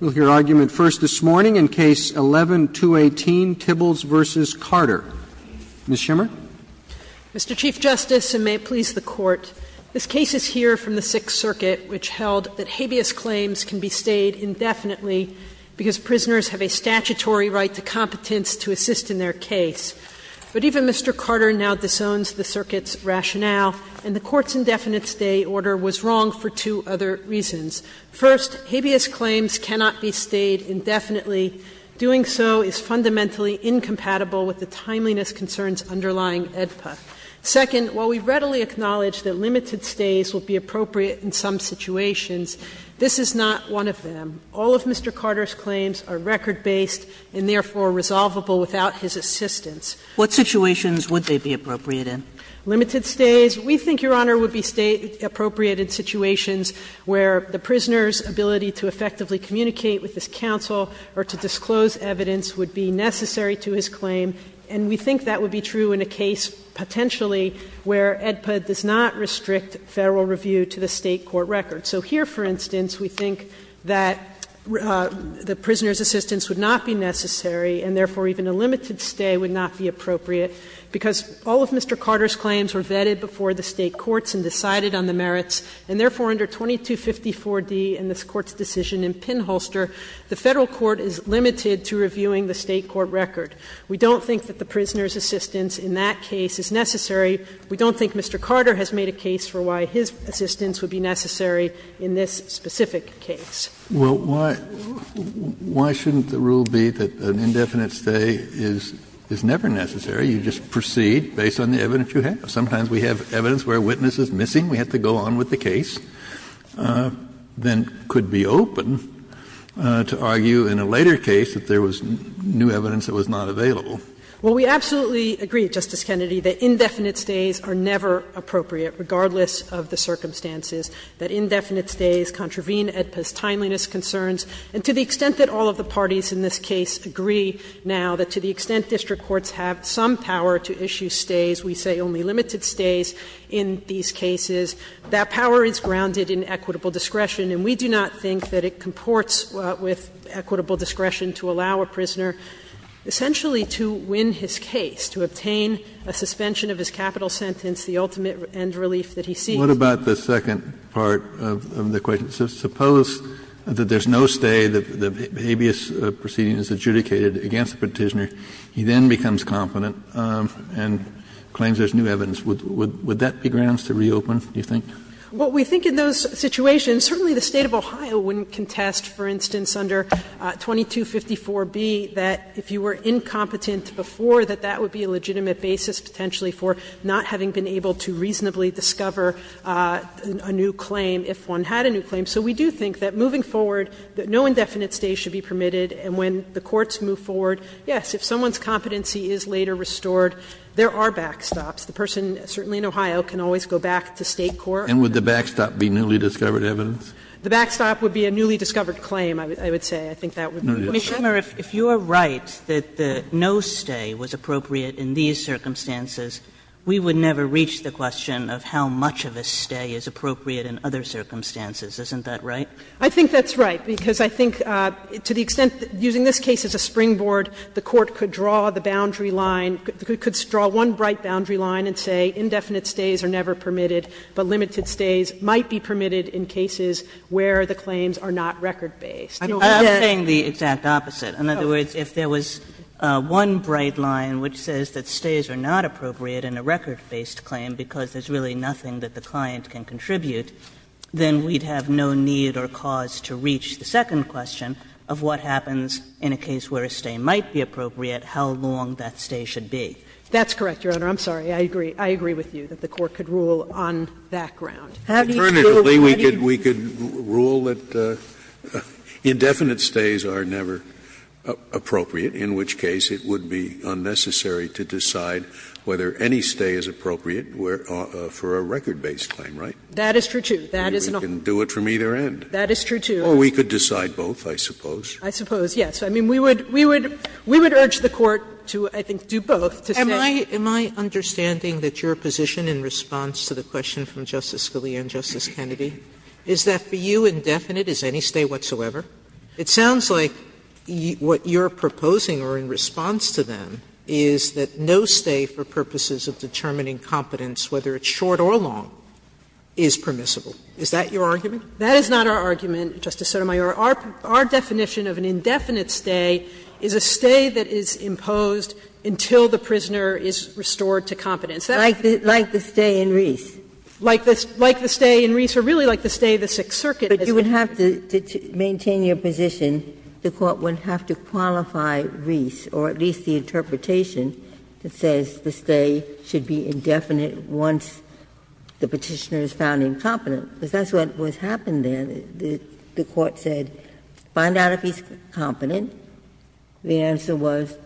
We'll hear argument first this morning in Case 11-218, Tibbals v. Carter. Ms. Schimmer. Mr. Chief Justice, and may it please the Court, this case is here from the Sixth Circuit, which held that habeas claims can be stayed indefinitely because prisoners have a statutory right to competence to assist in their case. But even Mr. Carter now disowns the Circuit's rationale, and the Court's indefinite stay order was wrong for two other reasons. First, habeas claims cannot be stayed indefinitely. Doing so is fundamentally incompatible with the timeliness concerns underlying AEDPA. Second, while we readily acknowledge that limited stays would be appropriate in some situations, this is not one of them. All of Mr. Carter's claims are record-based and therefore resolvable without his assistance. Sotomayor What situations would they be appropriate in? Ms. Schimmer. Limited stays. We think, Your Honor, would be stay appropriate in situations where the prisoner's ability to effectively communicate with his counsel or to disclose evidence would be necessary to his claim, and we think that would be true in a case potentially where AEDPA does not restrict Federal review to the State court record. So here, for instance, we think that the prisoner's assistance would not be necessary, and therefore even a limited stay would not be appropriate, because all of Mr. Carter's claims were made for the State courts and decided on the merits, and therefore under 2254d in this Court's decision in Pinholster, the Federal court is limited to reviewing the State court record. We don't think that the prisoner's assistance in that case is necessary. We don't think Mr. Carter has made a case for why his assistance would be necessary in this specific case. Kennedy Well, why shouldn't the rule be that an indefinite stay is never necessary? You just proceed based on the evidence you have. Sometimes we have evidence where a witness is missing. We have to go on with the case. Then it could be open to argue in a later case that there was new evidence that was not available. Sotomayor Well, we absolutely agree, Justice Kennedy, that indefinite stays are never appropriate, regardless of the circumstances, that indefinite stays contravene AEDPA's timeliness concerns. And to the extent that all of the parties in this case agree now, that to the extent district courts have some power to issue stays, we say only limited stays in these cases, that power is grounded in equitable discretion, and we do not think that it comports with equitable discretion to allow a prisoner essentially to win his case, to obtain a suspension of his capital sentence, the ultimate end relief that he seeks. Kennedy What about the second part of the question? Suppose that there's no stay, the habeas proceeding is adjudicated against the Petitioner. He then becomes confident and claims there's new evidence. Would that be grounds to reopen, do you think? Sotomayor Well, we think in those situations, certainly the State of Ohio wouldn't contest, for instance, under 2254b, that if you were incompetent before, that that would be a legitimate basis potentially for not having been able to reasonably discover a new claim if one had a new claim. So we do think that moving forward, that no indefinite stay should be permitted. And when the courts move forward, yes, if someone's competency is later restored, there are backstops. The person, certainly in Ohio, can always go back to State court. Kennedy And would the backstop be newly discovered evidence? Sotomayor The backstop would be a newly discovered claim, I would say. I think that would be the case. Kagan No, you would not. Kagan No, you would not. Sotomayor Ms. Schumer, if you are right that no stay was appropriate in these circumstances, we would never reach the question of how much of a stay is appropriate in other circumstances, isn't that right? Schumer I think that's right, because I think to the extent that using this case as a springboard, the Court could draw the boundary line, could draw one bright boundary line and say indefinite stays are never permitted, but limited stays might be permitted in cases where the claims are not record-based. Kagan I'm saying the exact opposite. In other words, if there was one bright line which says that stays are not appropriate in a record-based claim because there's really nothing that the client can contribute, then we'd have no need or cause to reach the second question of what happens in a case where a stay might be appropriate, how long that stay should be. Schumer That's correct, Your Honor. I'm sorry. I agree. I agree with you that the Court could rule on that ground. Scalia Have you thought of what I did? Scalia Alternatively, we could rule that indefinite stays are never appropriate, in which case it would be unnecessary to decide whether any stay is appropriate for a record-based claim, right? Kagan That is true, too. That is an option. Scalia We can do it from either end. Kagan That is true, too. Scalia Or we could decide both, I suppose. Kagan I suppose, yes. I mean, we would urge the Court to, I think, do both, to say. Sotomayor Am I understanding that your position in response to the question from Justice Scalia and Justice Kennedy is that for you, indefinite is any stay whatsoever? It sounds like what you're proposing or in response to them is that no stay for purposes of determining competence, whether it's short or long, is permissible. Is that your argument? Kagan That is not our argument, Justice Sotomayor. Our definition of an indefinite stay is a stay that is imposed until the prisoner is restored to competence. Ginsburg Like the stay in Reese. Kagan Like the stay in Reese, or really like the stay in the Sixth Circuit. Ginsburg But you would have to maintain your position, the Court would have to qualify Reese, or at least the interpretation that says the stay should be indefinite once the Petitioner is found incompetent, because that's what happened there. The Court said, find out if he's competent. The answer was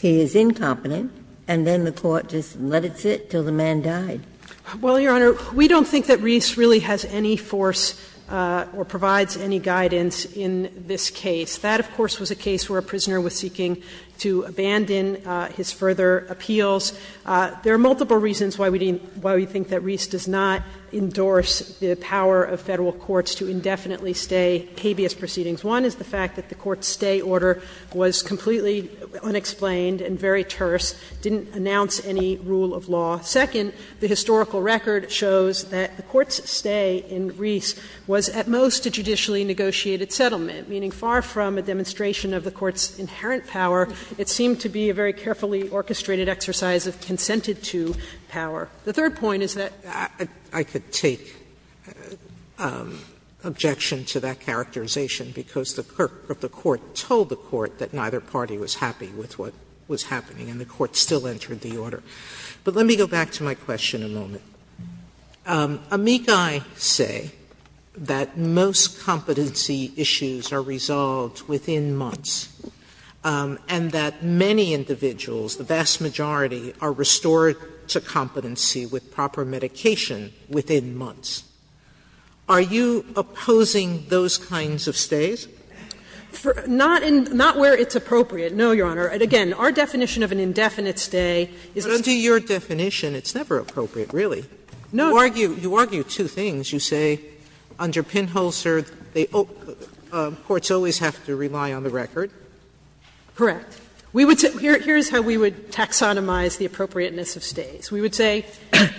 he is incompetent, and then the Court just let it sit until the man died. Kagan Well, Your Honor, we don't think that Reese really has any force or provides any guidance in this case. That, of course, was a case where a prisoner was seeking to abandon his further appeals. There are multiple reasons why we think that Reese does not endorse the power of Federal courts to indefinitely stay habeas proceedings. One is the fact that the court's stay order was completely unexplained and very terse, didn't announce any rule of law. Second, the historical record shows that the court's stay in Reese was at most a judicially negotiated settlement, meaning far from a demonstration of the court's inherent power, it seemed to be a very carefully orchestrated exercise of consented-to power. The third point is that I could take objection to that characterization because the clerk of the court told the court that neither party was happy with what was happening, and the court still entered the order. But let me go back to my question a moment. Amici say that most competency issues are resolved within months, and that many individuals, the vast majority, are restored to competency with proper medication within months. Are you opposing those kinds of stays? Not where it's appropriate, no, Your Honor. And again, our definition of an indefinite stay is a stay that's never permitted. Sotomayor, under your definition, it's never appropriate, really. You argue two things. You say under Pinholster, courts always have to rely on the record. Correct. We would say here's how we would taxonomize the appropriateness of stays. We would say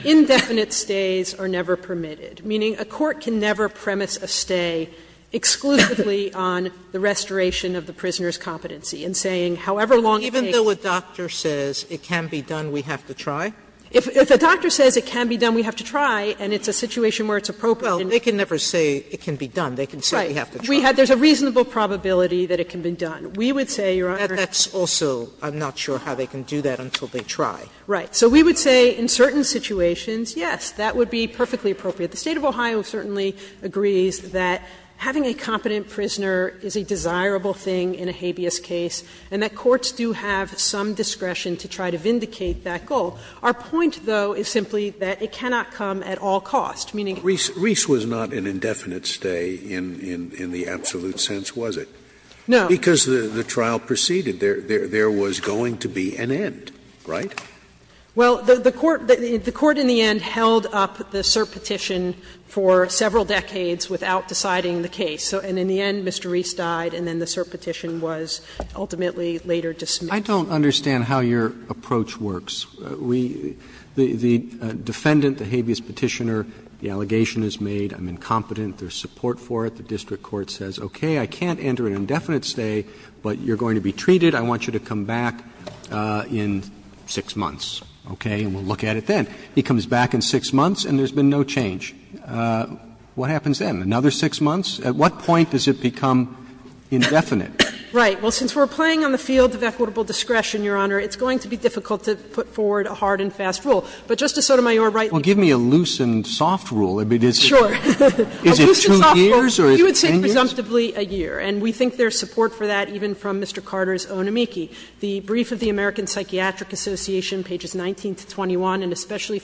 indefinite stays are never permitted, meaning a court can never premise a stay exclusively on the restoration of the prisoner's competency in saying however long it takes. Sotomayor, even though a doctor says it can be done, we have to try? If a doctor says it can be done, we have to try, and it's a situation where it's appropriate. Well, they can never say it can be done. They can say we have to try. Right. There's a reasonable probability that it can be done. We would say, Your Honor. That's also, I'm not sure how they can do that until they try. Right. So we would say in certain situations, yes, that would be perfectly appropriate. The State of Ohio certainly agrees that having a competent prisoner is a desirable thing in a habeas case, and that courts do have some discretion to try to vindicate that goal. Our point, though, is simply that it cannot come at all costs, meaning it's not going to be a permanent stay. Scalia was not an indefinite stay in the absolute sense, was it? No. Because the trial proceeded. There was going to be an end, right? Well, the court in the end held up the cert petition for several decades without deciding the case. And in the end, Mr. Reese died and then the cert petition was ultimately later dismissed. I don't understand how your approach works. We – the defendant, the habeas petitioner, the allegation is made, I'm incompetent, there's support for it. The district court says, okay, I can't enter an indefinite stay, but you're going to be treated, I want you to come back in 6 months, okay, and we'll look at it then. He comes back in 6 months and there's been no change. What happens then? Another 6 months? At what point does it become indefinite? Right. Well, since we're playing on the field of equitable discretion, Your Honor, it's going to be difficult to put forward a hard and fast rule. But Justice Sotomayor rightly said that it's going to be a hard and fast rule. Well, give me a loose and soft rule. Is it 2 years or is it 10 years? A loose and soft rule, you would say presumptively a year. And we think there's support for that even from Mr. Carter's own amici. The brief of the American Psychiatric Association, pages 19 to 21, and especially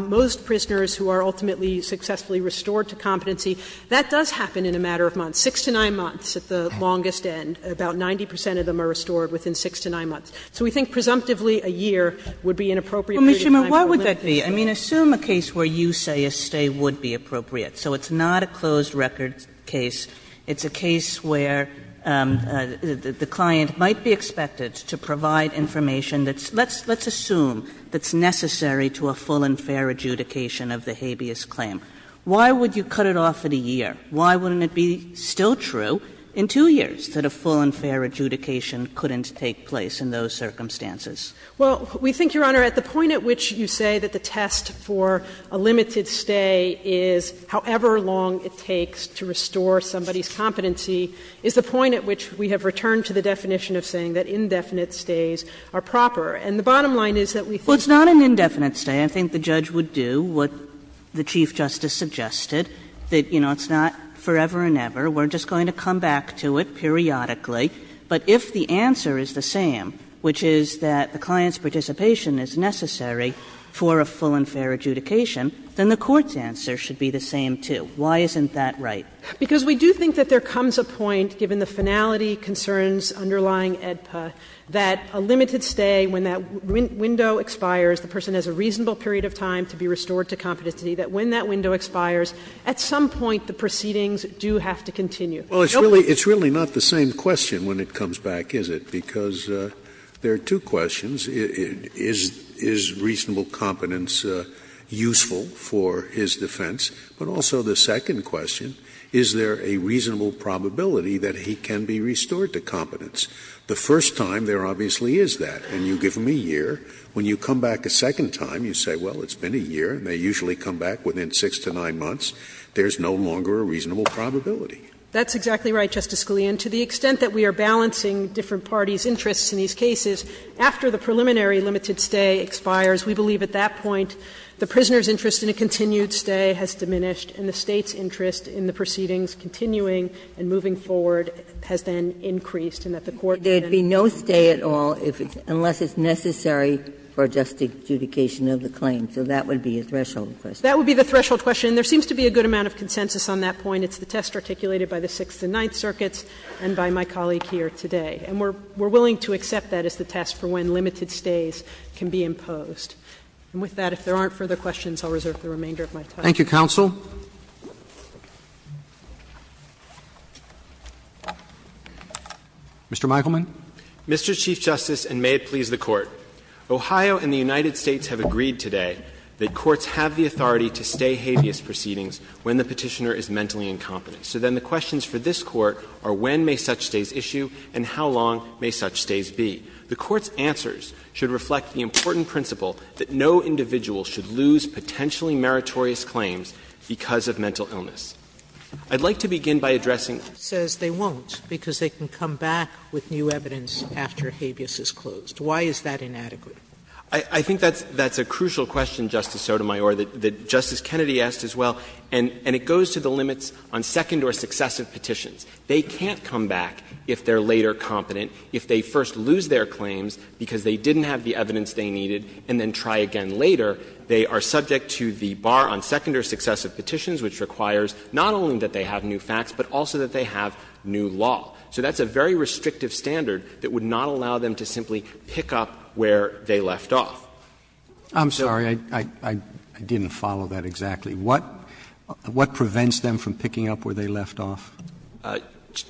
most prisoners who are ultimately successfully restored to competency, that does happen in a matter of months, 6 to 9 months at the longest end. About 90 percent of them are restored within 6 to 9 months. So we think presumptively a year would be an appropriate period of time for a limit. Well, Ms. Schimmer, why would that be? I mean, assume a case where you say a stay would be appropriate. So it's not a closed record case. It's a case where the client might be expected to provide information that's – let's assume that's necessary to a full and fair adjudication of the habeas claim. Why would you cut it off at a year? Why wouldn't it be still true in 2 years that a full and fair adjudication couldn't take place in those circumstances? Well, we think, Your Honor, at the point at which you say that the test for a limited stay is however long it takes to restore somebody's competency is the point at which we have returned to the definition of saying that indefinite stays are proper. And the bottom line is that we think that's not an indefinite stay. I think the judge would do what the Chief Justice suggested, that, you know, it's not forever and ever. We're just going to come back to it periodically. But if the answer is the same, which is that the client's participation is necessary for a full and fair adjudication, then the Court's answer should be the same, too. Why isn't that right? Because we do think that there comes a point, given the finality concerns underlying AEDPA, that a limited stay, when that window expires, the person has a reasonable period of time to be restored to competency, that when that window expires, at some point the proceedings do have to continue. Scalia. Well, it's really not the same question when it comes back, is it? Because there are two questions. Is reasonable competence useful for his defense? But also the second question, is there a reasonable probability that he can be restored to competence? The first time, there obviously is that, and you give him a year. When you come back a second time, you say, well, it's been a year, and they usually come back within 6 to 9 months, there's no longer a reasonable probability. That's exactly right, Justice Scalia. And to the extent that we are balancing different parties' interests in these cases, after the preliminary limited stay expires, we believe at that point the prisoner's interest in a continued stay has diminished and the State's interest in the proceedings continuing and moving forward has then increased, and that the Court can then There would be no stay at all unless it's necessary for just adjudication of the claim, so that would be a threshold question. That would be the threshold question. There seems to be a good amount of consensus on that point. It's the test articulated by the Sixth and Ninth Circuits and by my colleague here today. And we're willing to accept that as the test for when limited stays can be imposed. And with that, if there aren't further questions, I'll reserve the remainder of my time. Thank you, counsel. Mr. Meichelman. Mr. Chief Justice, and may it please the Court. Ohio and the United States have agreed today that courts have the authority to stay habeas proceedings when the Petitioner is mentally incompetent. So then the questions for this Court are when may such stays issue and how long may such stays be. The Court's answers should reflect the important principle that no individual should lose potentially meritorious claims because of mental illness. I'd like to begin by addressing. Sotomayor says they won't because they can come back with new evidence after habeas is closed. Why is that inadequate? I think that's a crucial question, Justice Sotomayor, that Justice Kennedy asked as well. And it goes to the limits on second or successive petitions. They can't come back if they're later competent. If they first lose their claims because they didn't have the evidence they needed and then try again later, they are subject to the bar on second or successive petitions, which requires not only that they have new facts, but also that they have new law. So that's a very restrictive standard that would not allow them to simply pick up where they left off. I'm sorry, I didn't follow that exactly. What prevents them from picking up where they left off?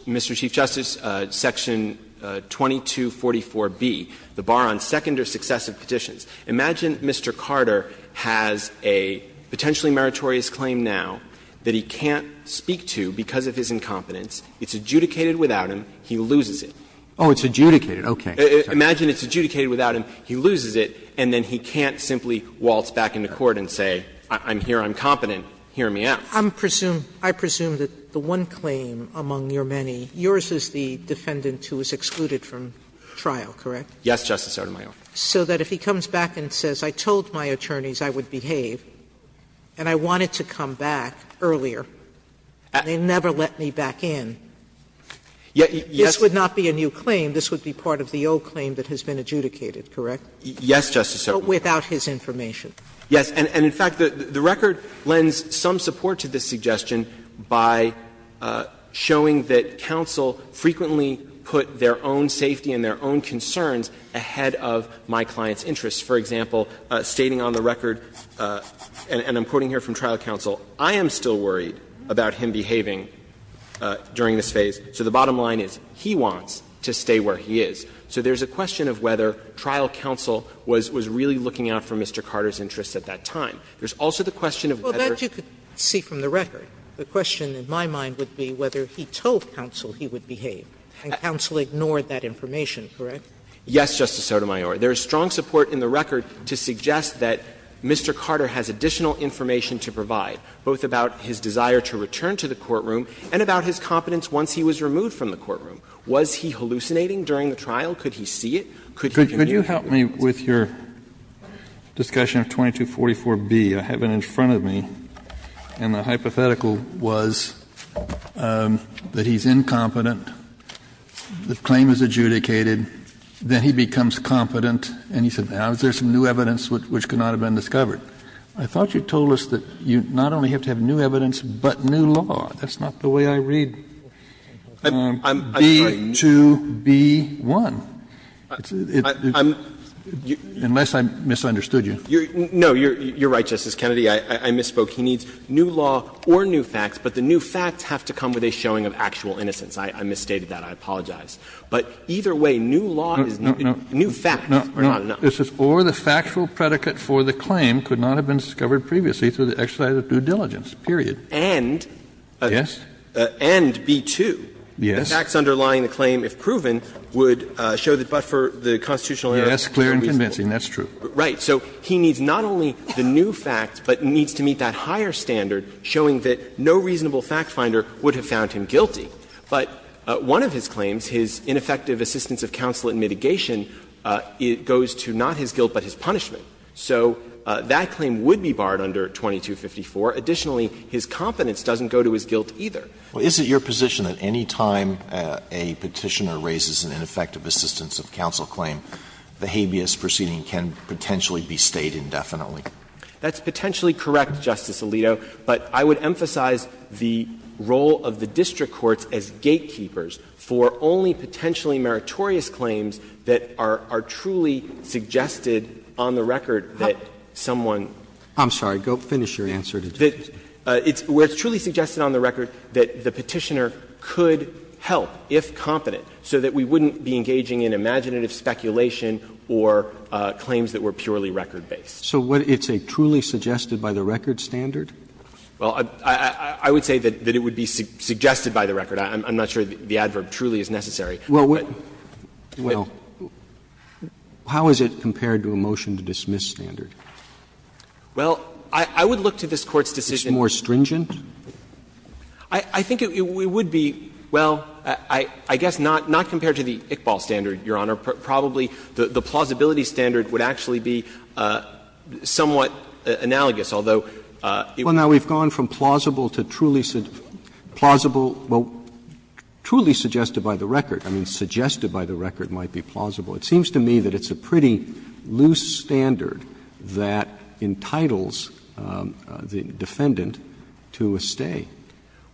Mr. Chief Justice, Section 2244b, the bar on second or successive petitions. Imagine Mr. Carter has a potentially meritorious claim now that he can't speak to because of his incompetence. It's adjudicated without him. He loses it. Oh, it's adjudicated. Okay. Imagine it's adjudicated without him, he loses it, and then he can't simply waltz back into court and say, I'm here, I'm competent, hear me out. I presume that the one claim among your many, yours is the defendant who was excluded from trial, correct? Yes, Justice Sotomayor. So that if he comes back and says, I told my attorneys I would behave and I wanted to come back earlier, they never let me back in, this would not be a new claim. This would be part of the old claim that has been adjudicated, correct? Yes, Justice Sotomayor. But without his information. Yes. And, in fact, the record lends some support to this suggestion by showing that counsel frequently put their own safety and their own concerns ahead of my client's interests. For example, stating on the record, and I'm quoting here from trial counsel, I am still worried about him behaving during this phase. So the bottom line is he wants to stay where he is. So there's a question of whether trial counsel was really looking out for Mr. Carter's interests at that time. There's also the question of whether you could see from the record, the question in my mind would be whether he told counsel he would behave, and counsel ignored that information, correct? Yes, Justice Sotomayor. There is strong support in the record to suggest that Mr. Carter has additional information to provide, both about his desire to return to the courtroom and about his competence once he was removed from the courtroom. Was he hallucinating during the trial? Could he see it? Could he hear it? Could you help me with your discussion of 2244b? I have it in front of me, and the hypothetical was that he's incompetent, the claim is adjudicated, then he becomes competent, and he said, now is there some new evidence which could not have been discovered? I thought you told us that you not only have to have new evidence, but new law. That's not the way I read it. B-2-B-1. Unless I misunderstood you. No, you're right, Justice Kennedy. I misspoke. He needs new law or new facts, but the new facts have to come with a showing of actual innocence. I misstated that. I apologize. But either way, new law is not enough. New facts are not enough. Or the factual predicate for the claim could not have been discovered previously through the exercise of due diligence, period. And B-2. Yes. The facts underlying the claim, if proven, would show that but for the constitutional evidence, it's reasonable. Yes, clear and convincing, that's true. Right. So he needs not only the new facts, but needs to meet that higher standard, showing that no reasonable fact finder would have found him guilty. But one of his claims, his ineffective assistance of counsel in mitigation, goes to not his guilt but his punishment. So that claim would be barred under 2254. Additionally, his competence doesn't go to his guilt either. Well, is it your position that any time a Petitioner raises an ineffective assistance of counsel claim, the habeas proceeding can potentially be stayed indefinitely? That's potentially correct, Justice Alito. But I would emphasize the role of the district courts as gatekeepers for only potentially meritorious claims that are truly suggested on the record that someone. I'm sorry. Go finish your answer. Where it's truly suggested on the record that the Petitioner could help, if competent, so that we wouldn't be engaging in imaginative speculation or claims that were purely record-based. So it's a truly suggested by the record standard? Well, I would say that it would be suggested by the record. I'm not sure the adverb truly is necessary. Well, how is it compared to a motion to dismiss standard? Well, I would look to this Court's decision. It's more stringent? I think it would be, well, I guess not compared to the Iqbal standard, Your Honor. Probably the plausibility standard would actually be somewhat analogous, although it would be plausible. Well, now, we've gone from plausible to truly plausible, well, truly suggested by the record. I mean, suggested by the record might be plausible. It seems to me that it's a pretty loose standard that entitles the defendant to a stay.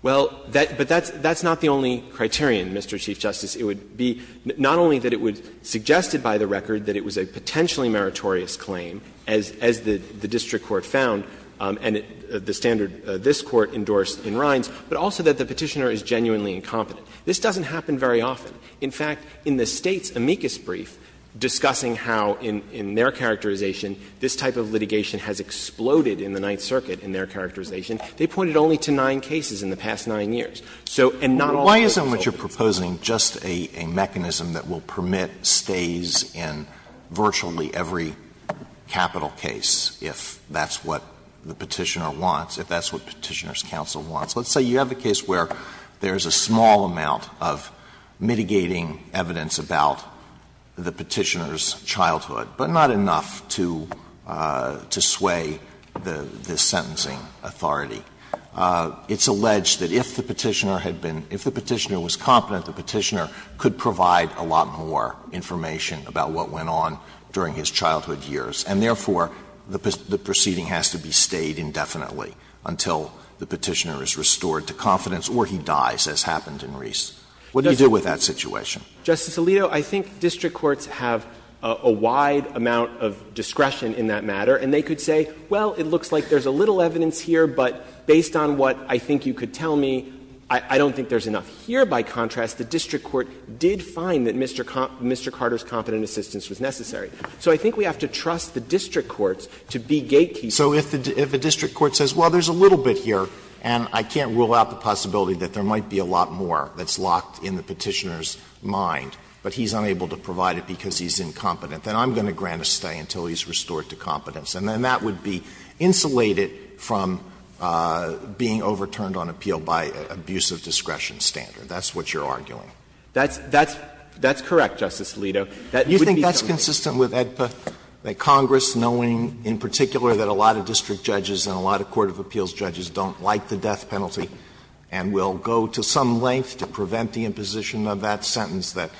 Well, but that's not the only criterion, Mr. Chief Justice. It would be not only that it would suggest it by the record that it was a potentially meritorious claim, as the district court found, and the standard this Court endorsed in Rines, but also that the Petitioner is genuinely incompetent. This doesn't happen very often. In fact, in the State's amicus brief discussing how in their characterization this type of litigation has exploded in the Ninth Circuit, in their characterization, they pointed only to nine cases in the past nine years. So, and not all of those are plausible. Alitoso, why isn't what you're proposing just a mechanism that will permit stays in virtually every capital case if that's what the Petitioner wants, if that's what Petitioner's counsel wants? Let's say you have a case where there is a small amount of mitigating evidence about the Petitioner's childhood, but not enough to sway the sentencing authority. It's alleged that if the Petitioner had been – if the Petitioner was competent, the Petitioner could provide a lot more information about what went on during his childhood years, and therefore, the proceeding has to be stayed indefinitely until the Petitioner is restored to confidence or he dies, as happened in Ries. What do you do with that situation? Justice Alito, I think district courts have a wide amount of discretion in that matter, and they could say, well, it looks like there's a little evidence here, but based on what I think you could tell me, I don't think there's enough here. By contrast, the district court did find that Mr. Carter's competent assistance was necessary. So I think we have to trust the district courts to be gatekeepers. Alitoso, if a district court says, well, there's a little bit here and I can't rule out the possibility that there might be a lot more that's locked in the Petitioner's mind, but he's unable to provide it because he's incompetent, then I'm going to grant a stay until he's restored to competence. And then that would be insulated from being overturned on appeal by an abuse of discretion standard. That's what you're arguing. That's correct, Justice Alito. That would be something. Do you think that's consistent with AEDPA, that Congress, knowing in particular that a lot of district judges and a lot of court of appeals judges don't like the death penalty and will go to some length to prevent the imposition of that sentence, that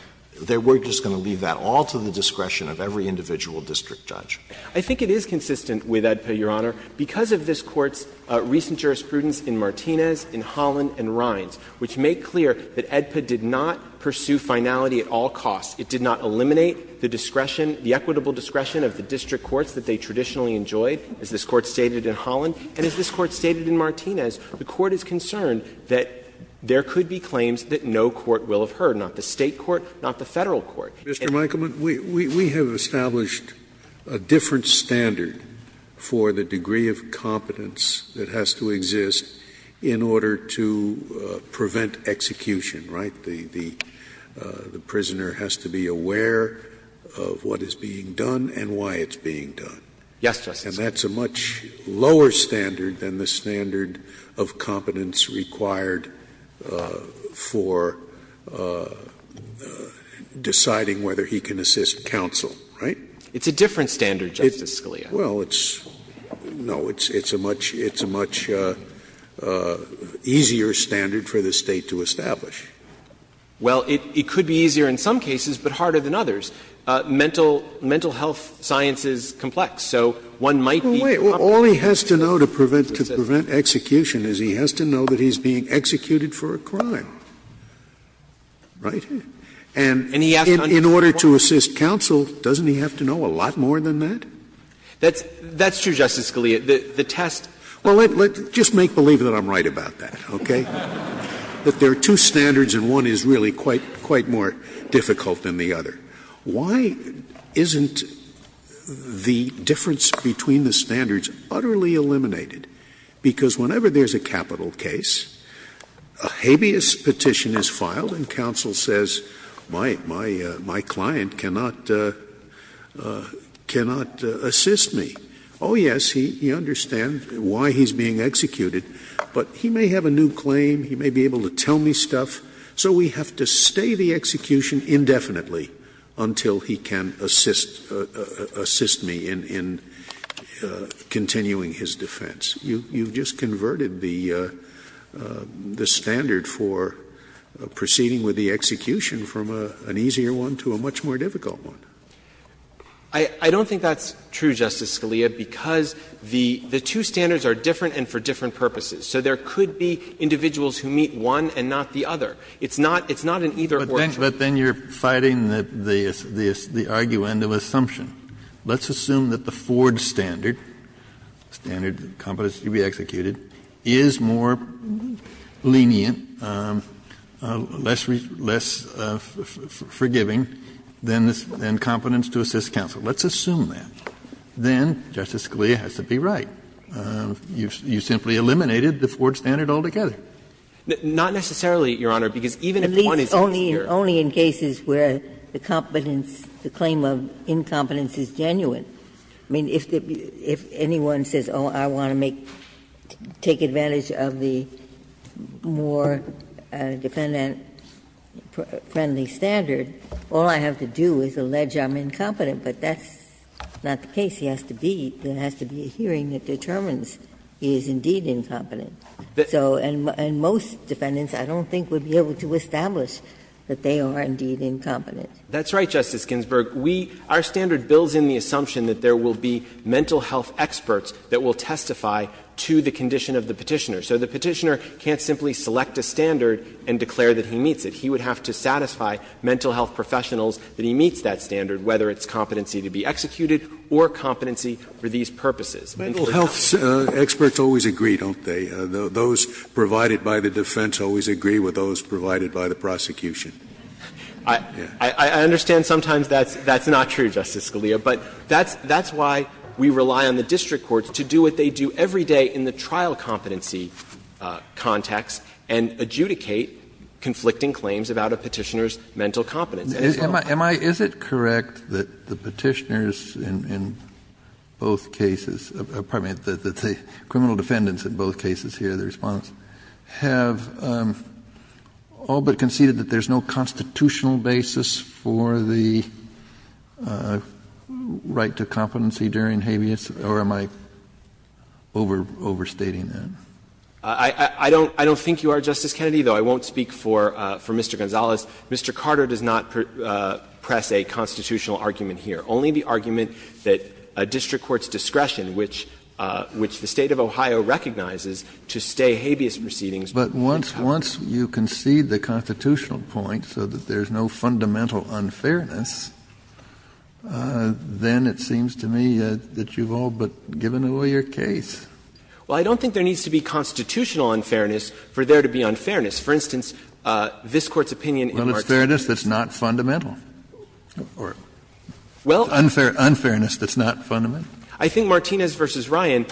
we're just going to leave that all to the discretion of every individual district judge? I think it is consistent with AEDPA, Your Honor, because of this Court's recent jurisprudence in Martinez, in Holland, and Rines, which make clear that AEDPA did not pursue finality at all costs. It did not eliminate the discretion, the equitable discretion of the district courts that they traditionally enjoyed, as this Court stated in Holland. And as this Court stated in Martinez, the Court is concerned that there could be claims that no court will have heard, not the State court, not the Federal court. Scalia. Mr. Michelman, we have established a different standard for the degree of competence that has to exist in order to prevent execution, right? The prisoner has to be aware of what is being done and why it's being done. Yes, Justice. And that's a much lower standard than the standard of competence required for deciding whether he can assist counsel, right? It's a different standard, Justice Scalia. Well, it's no, it's a much easier standard for the State to establish. Well, it could be easier in some cases, but harder than others. Mental health science is complex, so one might be competent to assist counsel. Wait. All he has to know to prevent execution is he has to know that he's being executed for a crime, right? And in order to assist counsel, doesn't he have to know a lot more than that? That's true, Justice Scalia. The test. Well, let's just make believe that I'm right about that, okay? That there are two standards and one is really quite more difficult than the other. Why isn't the difference between the standards utterly eliminated? Because whenever there's a capital case, a habeas petition is filed and counsel says, my client cannot assist me. Oh, yes, he understands why he's being executed, but he may have a new claim, he may be able to tell me stuff, so we have to stay the execution indefinitely until he can assist me in continuing his defense. You've just converted the standard for proceeding with the execution from an easier one to a much more difficult one. I don't think that's true, Justice Scalia, because the two standards are different and for different purposes. So there could be individuals who meet one and not the other. It's not an either or choice. But then you're fighting the argument of assumption. Let's assume that the Ford standard, standard competence to be executed, is more lenient, less forgiving than competence to assist counsel. Let's assume that. Then Justice Scalia has to be right. You simply eliminated the Ford standard altogether. Not necessarily, Your Honor, because even if one is inexperienced. Ginsburg. I mean, only in cases where the competence, the claim of incompetence is genuine. I mean, if anyone says, oh, I want to take advantage of the more defendant-friendly standard, all I have to do is allege I'm incompetent, but that's not the case. There has to be a hearing that determines he is indeed incompetent. So and most defendants I don't think would be able to establish that they are indeed incompetent. That's right, Justice Ginsburg. We – our standard builds in the assumption that there will be mental health experts that will testify to the condition of the Petitioner. So the Petitioner can't simply select a standard and declare that he meets it. He would have to satisfy mental health professionals that he meets that standard, whether it's competency to be executed or competency for these purposes. Mental health experts always agree, don't they? Those provided by the defense always agree with those provided by the prosecution. I understand sometimes that's not true, Justice Scalia, but that's why we rely on the district courts to do what they do every day in the trial competency context and adjudicate conflicting claims about a Petitioner's mental competence. Kennedy, is it correct that the Petitioners in both cases, pardon me, that the criminal defendants in both cases here, the Respondents, have all but conceded that there's no constitutional basis for the right to competency during habeas, or am I overstating that? I don't think you are, Justice Kennedy, though. I won't speak for Mr. Gonzalez. Mr. Carter does not press a constitutional argument here. Only the argument that a district court's discretion, which the State of Ohio recognizes, to stay habeas proceedings. Kennedy, but once you concede the constitutional point so that there's no fundamental unfairness, then it seems to me that you've all but given away your case. Well, I don't think there needs to be constitutional unfairness for there to be unfairness. For instance, this Court's opinion in Martinez. Well, it's fairness that's not fundamental. Or unfairness that's not fundamental. I think Martinez v. Ryan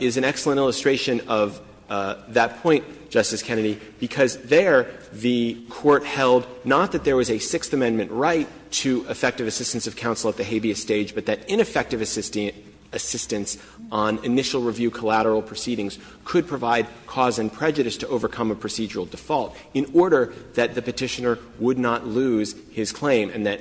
is an excellent illustration of that point, Justice Kennedy, because there the Court held not that there was a Sixth Amendment right to effective assistance of counsel at the habeas stage, but that ineffective assistance on initial review collateral proceedings could provide cause and prejudice to overcome a procedural default in order that the Petitioner would not lose his claim and that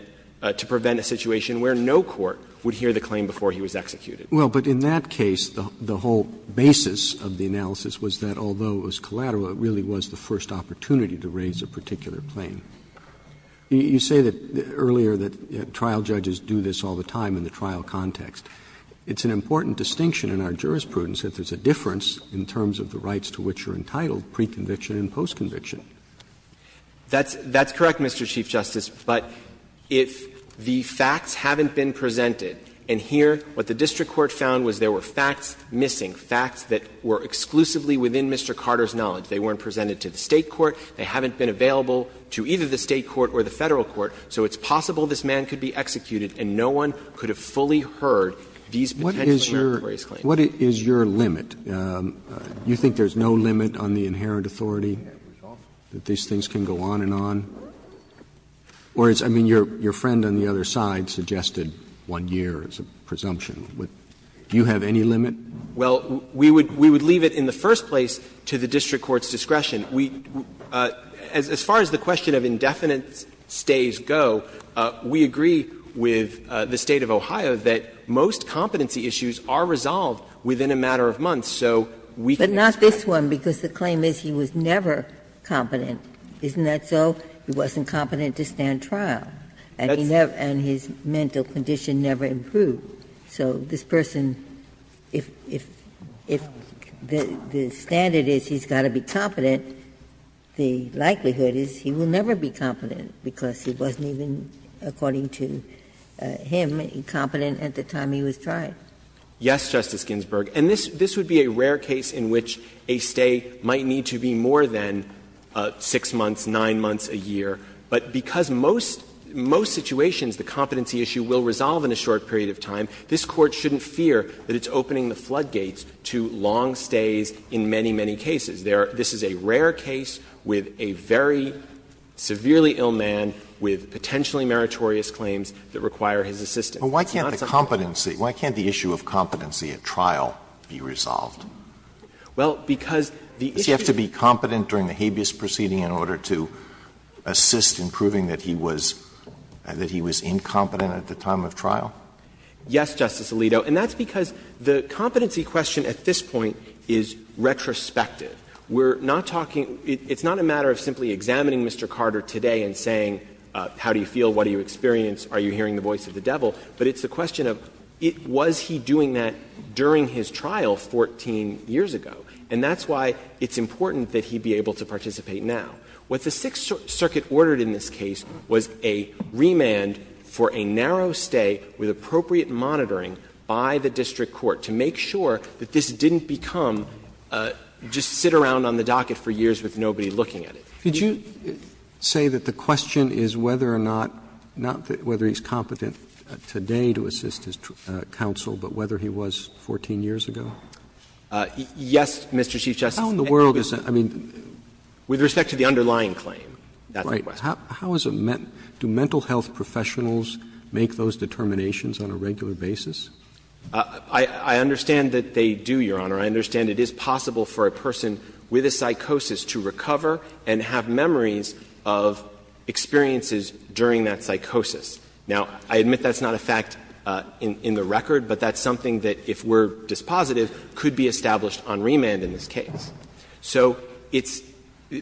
to prevent a situation where no court would hear the claim before he was executed. Well, but in that case, the whole basis of the analysis was that although it was collateral, it really was the first opportunity to raise a particular claim. You say that earlier that trial judges do this all the time in the trial context. It's an important distinction in our jurisprudence that there's a difference in terms of the rights to which you're entitled, pre-conviction and post-conviction. That's correct, Mr. Chief Justice. But if the facts haven't been presented, and here what the district court found was there were facts missing, facts that were exclusively within Mr. Carter's knowledge, they weren't presented to the State court, they haven't been available to either the State court or the Federal court, so it's possible this man could be executed and no one could have fully heard these potential meritorious claims. What is your limit? You think there's no limit on the inherent authority, that these things can go on and on? Or it's, I mean, your friend on the other side suggested one year as a presumption. Do you have any limit? Well, we would leave it in the first place to the district court's discretion. As far as the question of indefinite stays go, we agree with the State of Ohio that most competency issues are resolved within a matter of months, so we can expect But not this one, because the claim is he was never competent, isn't that so? He wasn't competent to stand trial, and he never, and his mental condition never improved. So this person, if the standard is he's got to be competent, the likelihood is he will never be competent, because he wasn't even, according to him, competent at the time he was tried. Yes, Justice Ginsburg. And this would be a rare case in which a stay might need to be more than 6 months, 9 months, a year. But because most situations, the competency issue will resolve in a short period of time, this Court shouldn't fear that it's opening the floodgates to long stays in many, many cases. This is a rare case with a very severely ill man with potentially meritorious claims that require his assistance. But why can't the competency, why can't the issue of competency at trial be resolved? Well, because the issue is that you have to be competent during the habeas proceeding in order to assist in proving that he was, that he was incompetent at the time of trial. Yes, Justice Alito, and that's because the competency question at this point is retrospective. We're not talking, it's not a matter of simply examining Mr. Carter today and saying how do you feel, what do you experience, are you hearing the voice of the devil? But it's the question of was he doing that during his trial 14 years ago? And that's why it's important that he be able to participate now. What the Sixth Circuit ordered in this case was a remand for a narrow stay with appropriate monitoring by the district court to make sure that this didn't become just sit around on the docket for years with nobody looking at it. Roberts Could you say that the question is whether or not, not whether he's competent today to assist his counsel, but whether he was 14 years ago? Yes, Mr. Chief Justice. How in the world is that? I mean, with respect to the underlying claim, that's the question. Right. How is a mental, do mental health professionals make those determinations on a regular basis? I understand that they do, Your Honor. I understand it is possible for a person with a psychosis to recover and have memories of experiences during that psychosis. Now, I admit that's not a fact in the record, but that's something that if we're dispositive could be established on remand in this case. So it's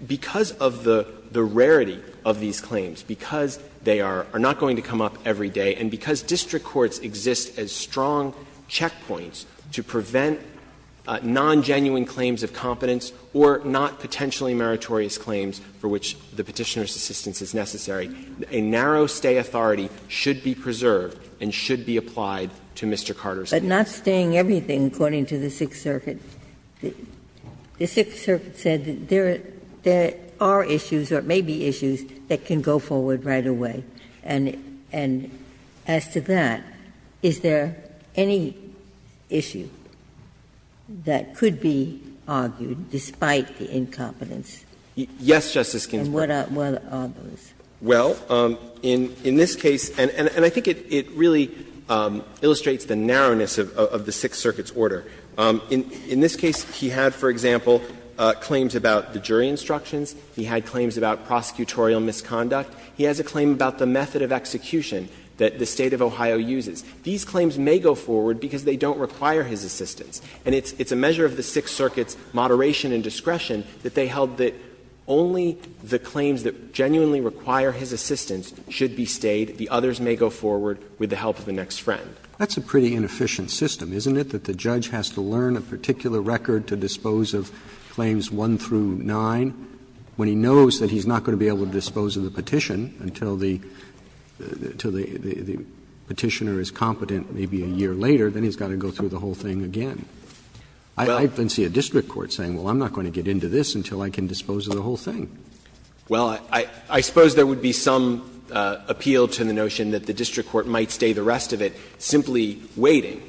because of the rarity of these claims, because they are not going to come up every day, and because district courts exist as strong checkpoints to prevent non-genuine claims of competence or not potentially meritorious claims for which the Petitioner's assistance is necessary. A narrow stay authority should be preserved and should be applied to Mr. Carter's case. But not staying everything, according to the Sixth Circuit. The Sixth Circuit said that there are issues or it may be issues that can go forward right away, and as to that, is there any issue? Ginsburg that could be argued despite the incompetence? Yes, Justice Ginsburg. And what are those? Well, in this case, and I think it really illustrates the narrowness of the Sixth Circuit's order. In this case, he had, for example, claims about the jury instructions. He had claims about prosecutorial misconduct. He has a claim about the method of execution that the State of Ohio uses. These claims may go forward because they don't require his assistance. And it's a measure of the Sixth Circuit's moderation and discretion that they held that only the claims that genuinely require his assistance should be stayed. The others may go forward with the help of the next friend. That's a pretty inefficient system, isn't it, that the judge has to learn a particular record to dispose of claims 1 through 9 when he knows that he's not going to be able to dispose of the petition until the petitioner is competent maybe a year later, then he's got to go through the whole thing again. I can see a district court saying, well, I'm not going to get into this until I can dispose of the whole thing. Well, I suppose there would be some appeal to the notion that the district court might stay the rest of it simply waiting,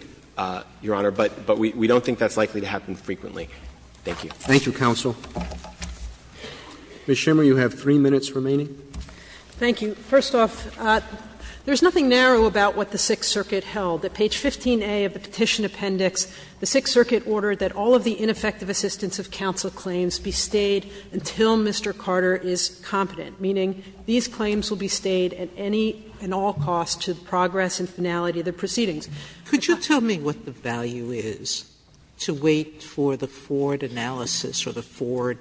Your Honor, but we don't think that's likely to happen frequently. Thank you. Thank you, counsel. Ms. Schimmer, you have 3 minutes remaining. Thank you. First off, there's nothing narrow about what the Sixth Circuit held. At page 15a of the petition appendix, the Sixth Circuit ordered that all of the ineffective assistance of counsel claims be stayed until Mr. Carter is competent, meaning these claims will be stayed at any and all cost to the progress and finality of the proceedings. Could you tell me what the value is to wait for the Ford analysis or the Ford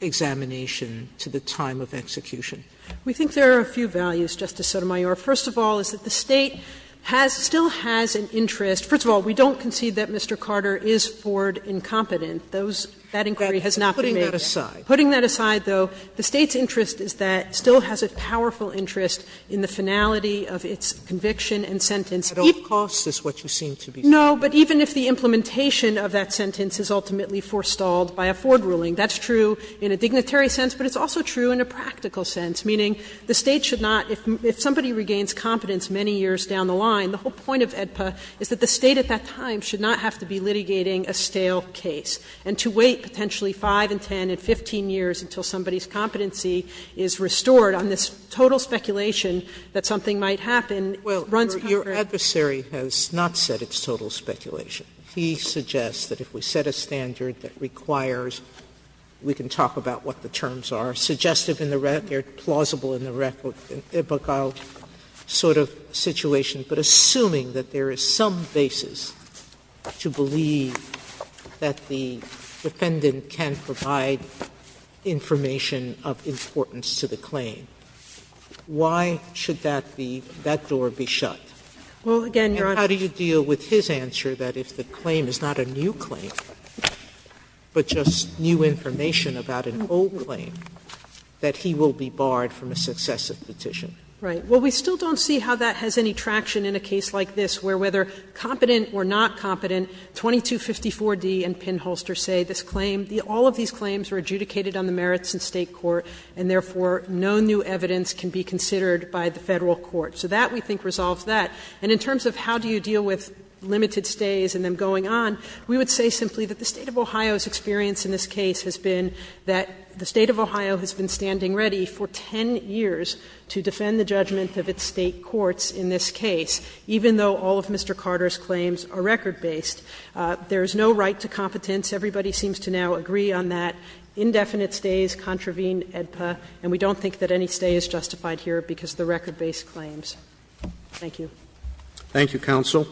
examination to the time of execution? We think there are a few values, Justice Sotomayor. First of all is that the State has still has an interest. First of all, we don't concede that Mr. Carter is Ford incompetent. Those that inquiry has not been made. Putting that aside. Putting that aside, though, the State's interest is that it still has a powerful interest in the finality of its conviction and sentence. At all costs is what you seem to be saying. No, but even if the implementation of that sentence is ultimately forestalled by a Ford ruling, that's true in a dignitary sense, but it's also true in a practical sense, meaning the State should not, if somebody regains competence many years down the line, the whole point of AEDPA is that the State at that time should not have to be litigating a stale case, and to wait potentially 5 and 10 and 15 years until somebody's competency is restored on this total speculation that something might happen runs contrary. Sotomayor, your adversary has not said it's total speculation. He suggests that if we set a standard that requires, we can talk about what the terms are, suggestive in the record, plausible in the record, sort of situation, but assuming that there is some basis to believe that the defendant can provide information of importance to the claim, why should that be, that door be shut? And how do you deal with his answer that if the claim is not a new claim, but just new information about an old claim, that he will be barred from a successive petition? Right. Well, we still don't see how that has any traction in a case like this where whether competent or not competent, 2254d and Pinholster say this claim, all of these claims are adjudicated on the merits in State court, and therefore, no new evidence can be considered by the Federal court. So that, we think, resolves that. And in terms of how do you deal with limited stays and them going on, we would say simply that the State of Ohio's experience in this case has been that the State of Ohio has been standing ready for 10 years to defend the judgment of its State courts in this case, even though all of Mr. Carter's claims are record-based. There is no right to competence. Everybody seems to now agree on that. Indefinite stays contravene AEDPA, and we don't think that any stay is justified here because of the record-based claims. Thank you. Thank you, counsel.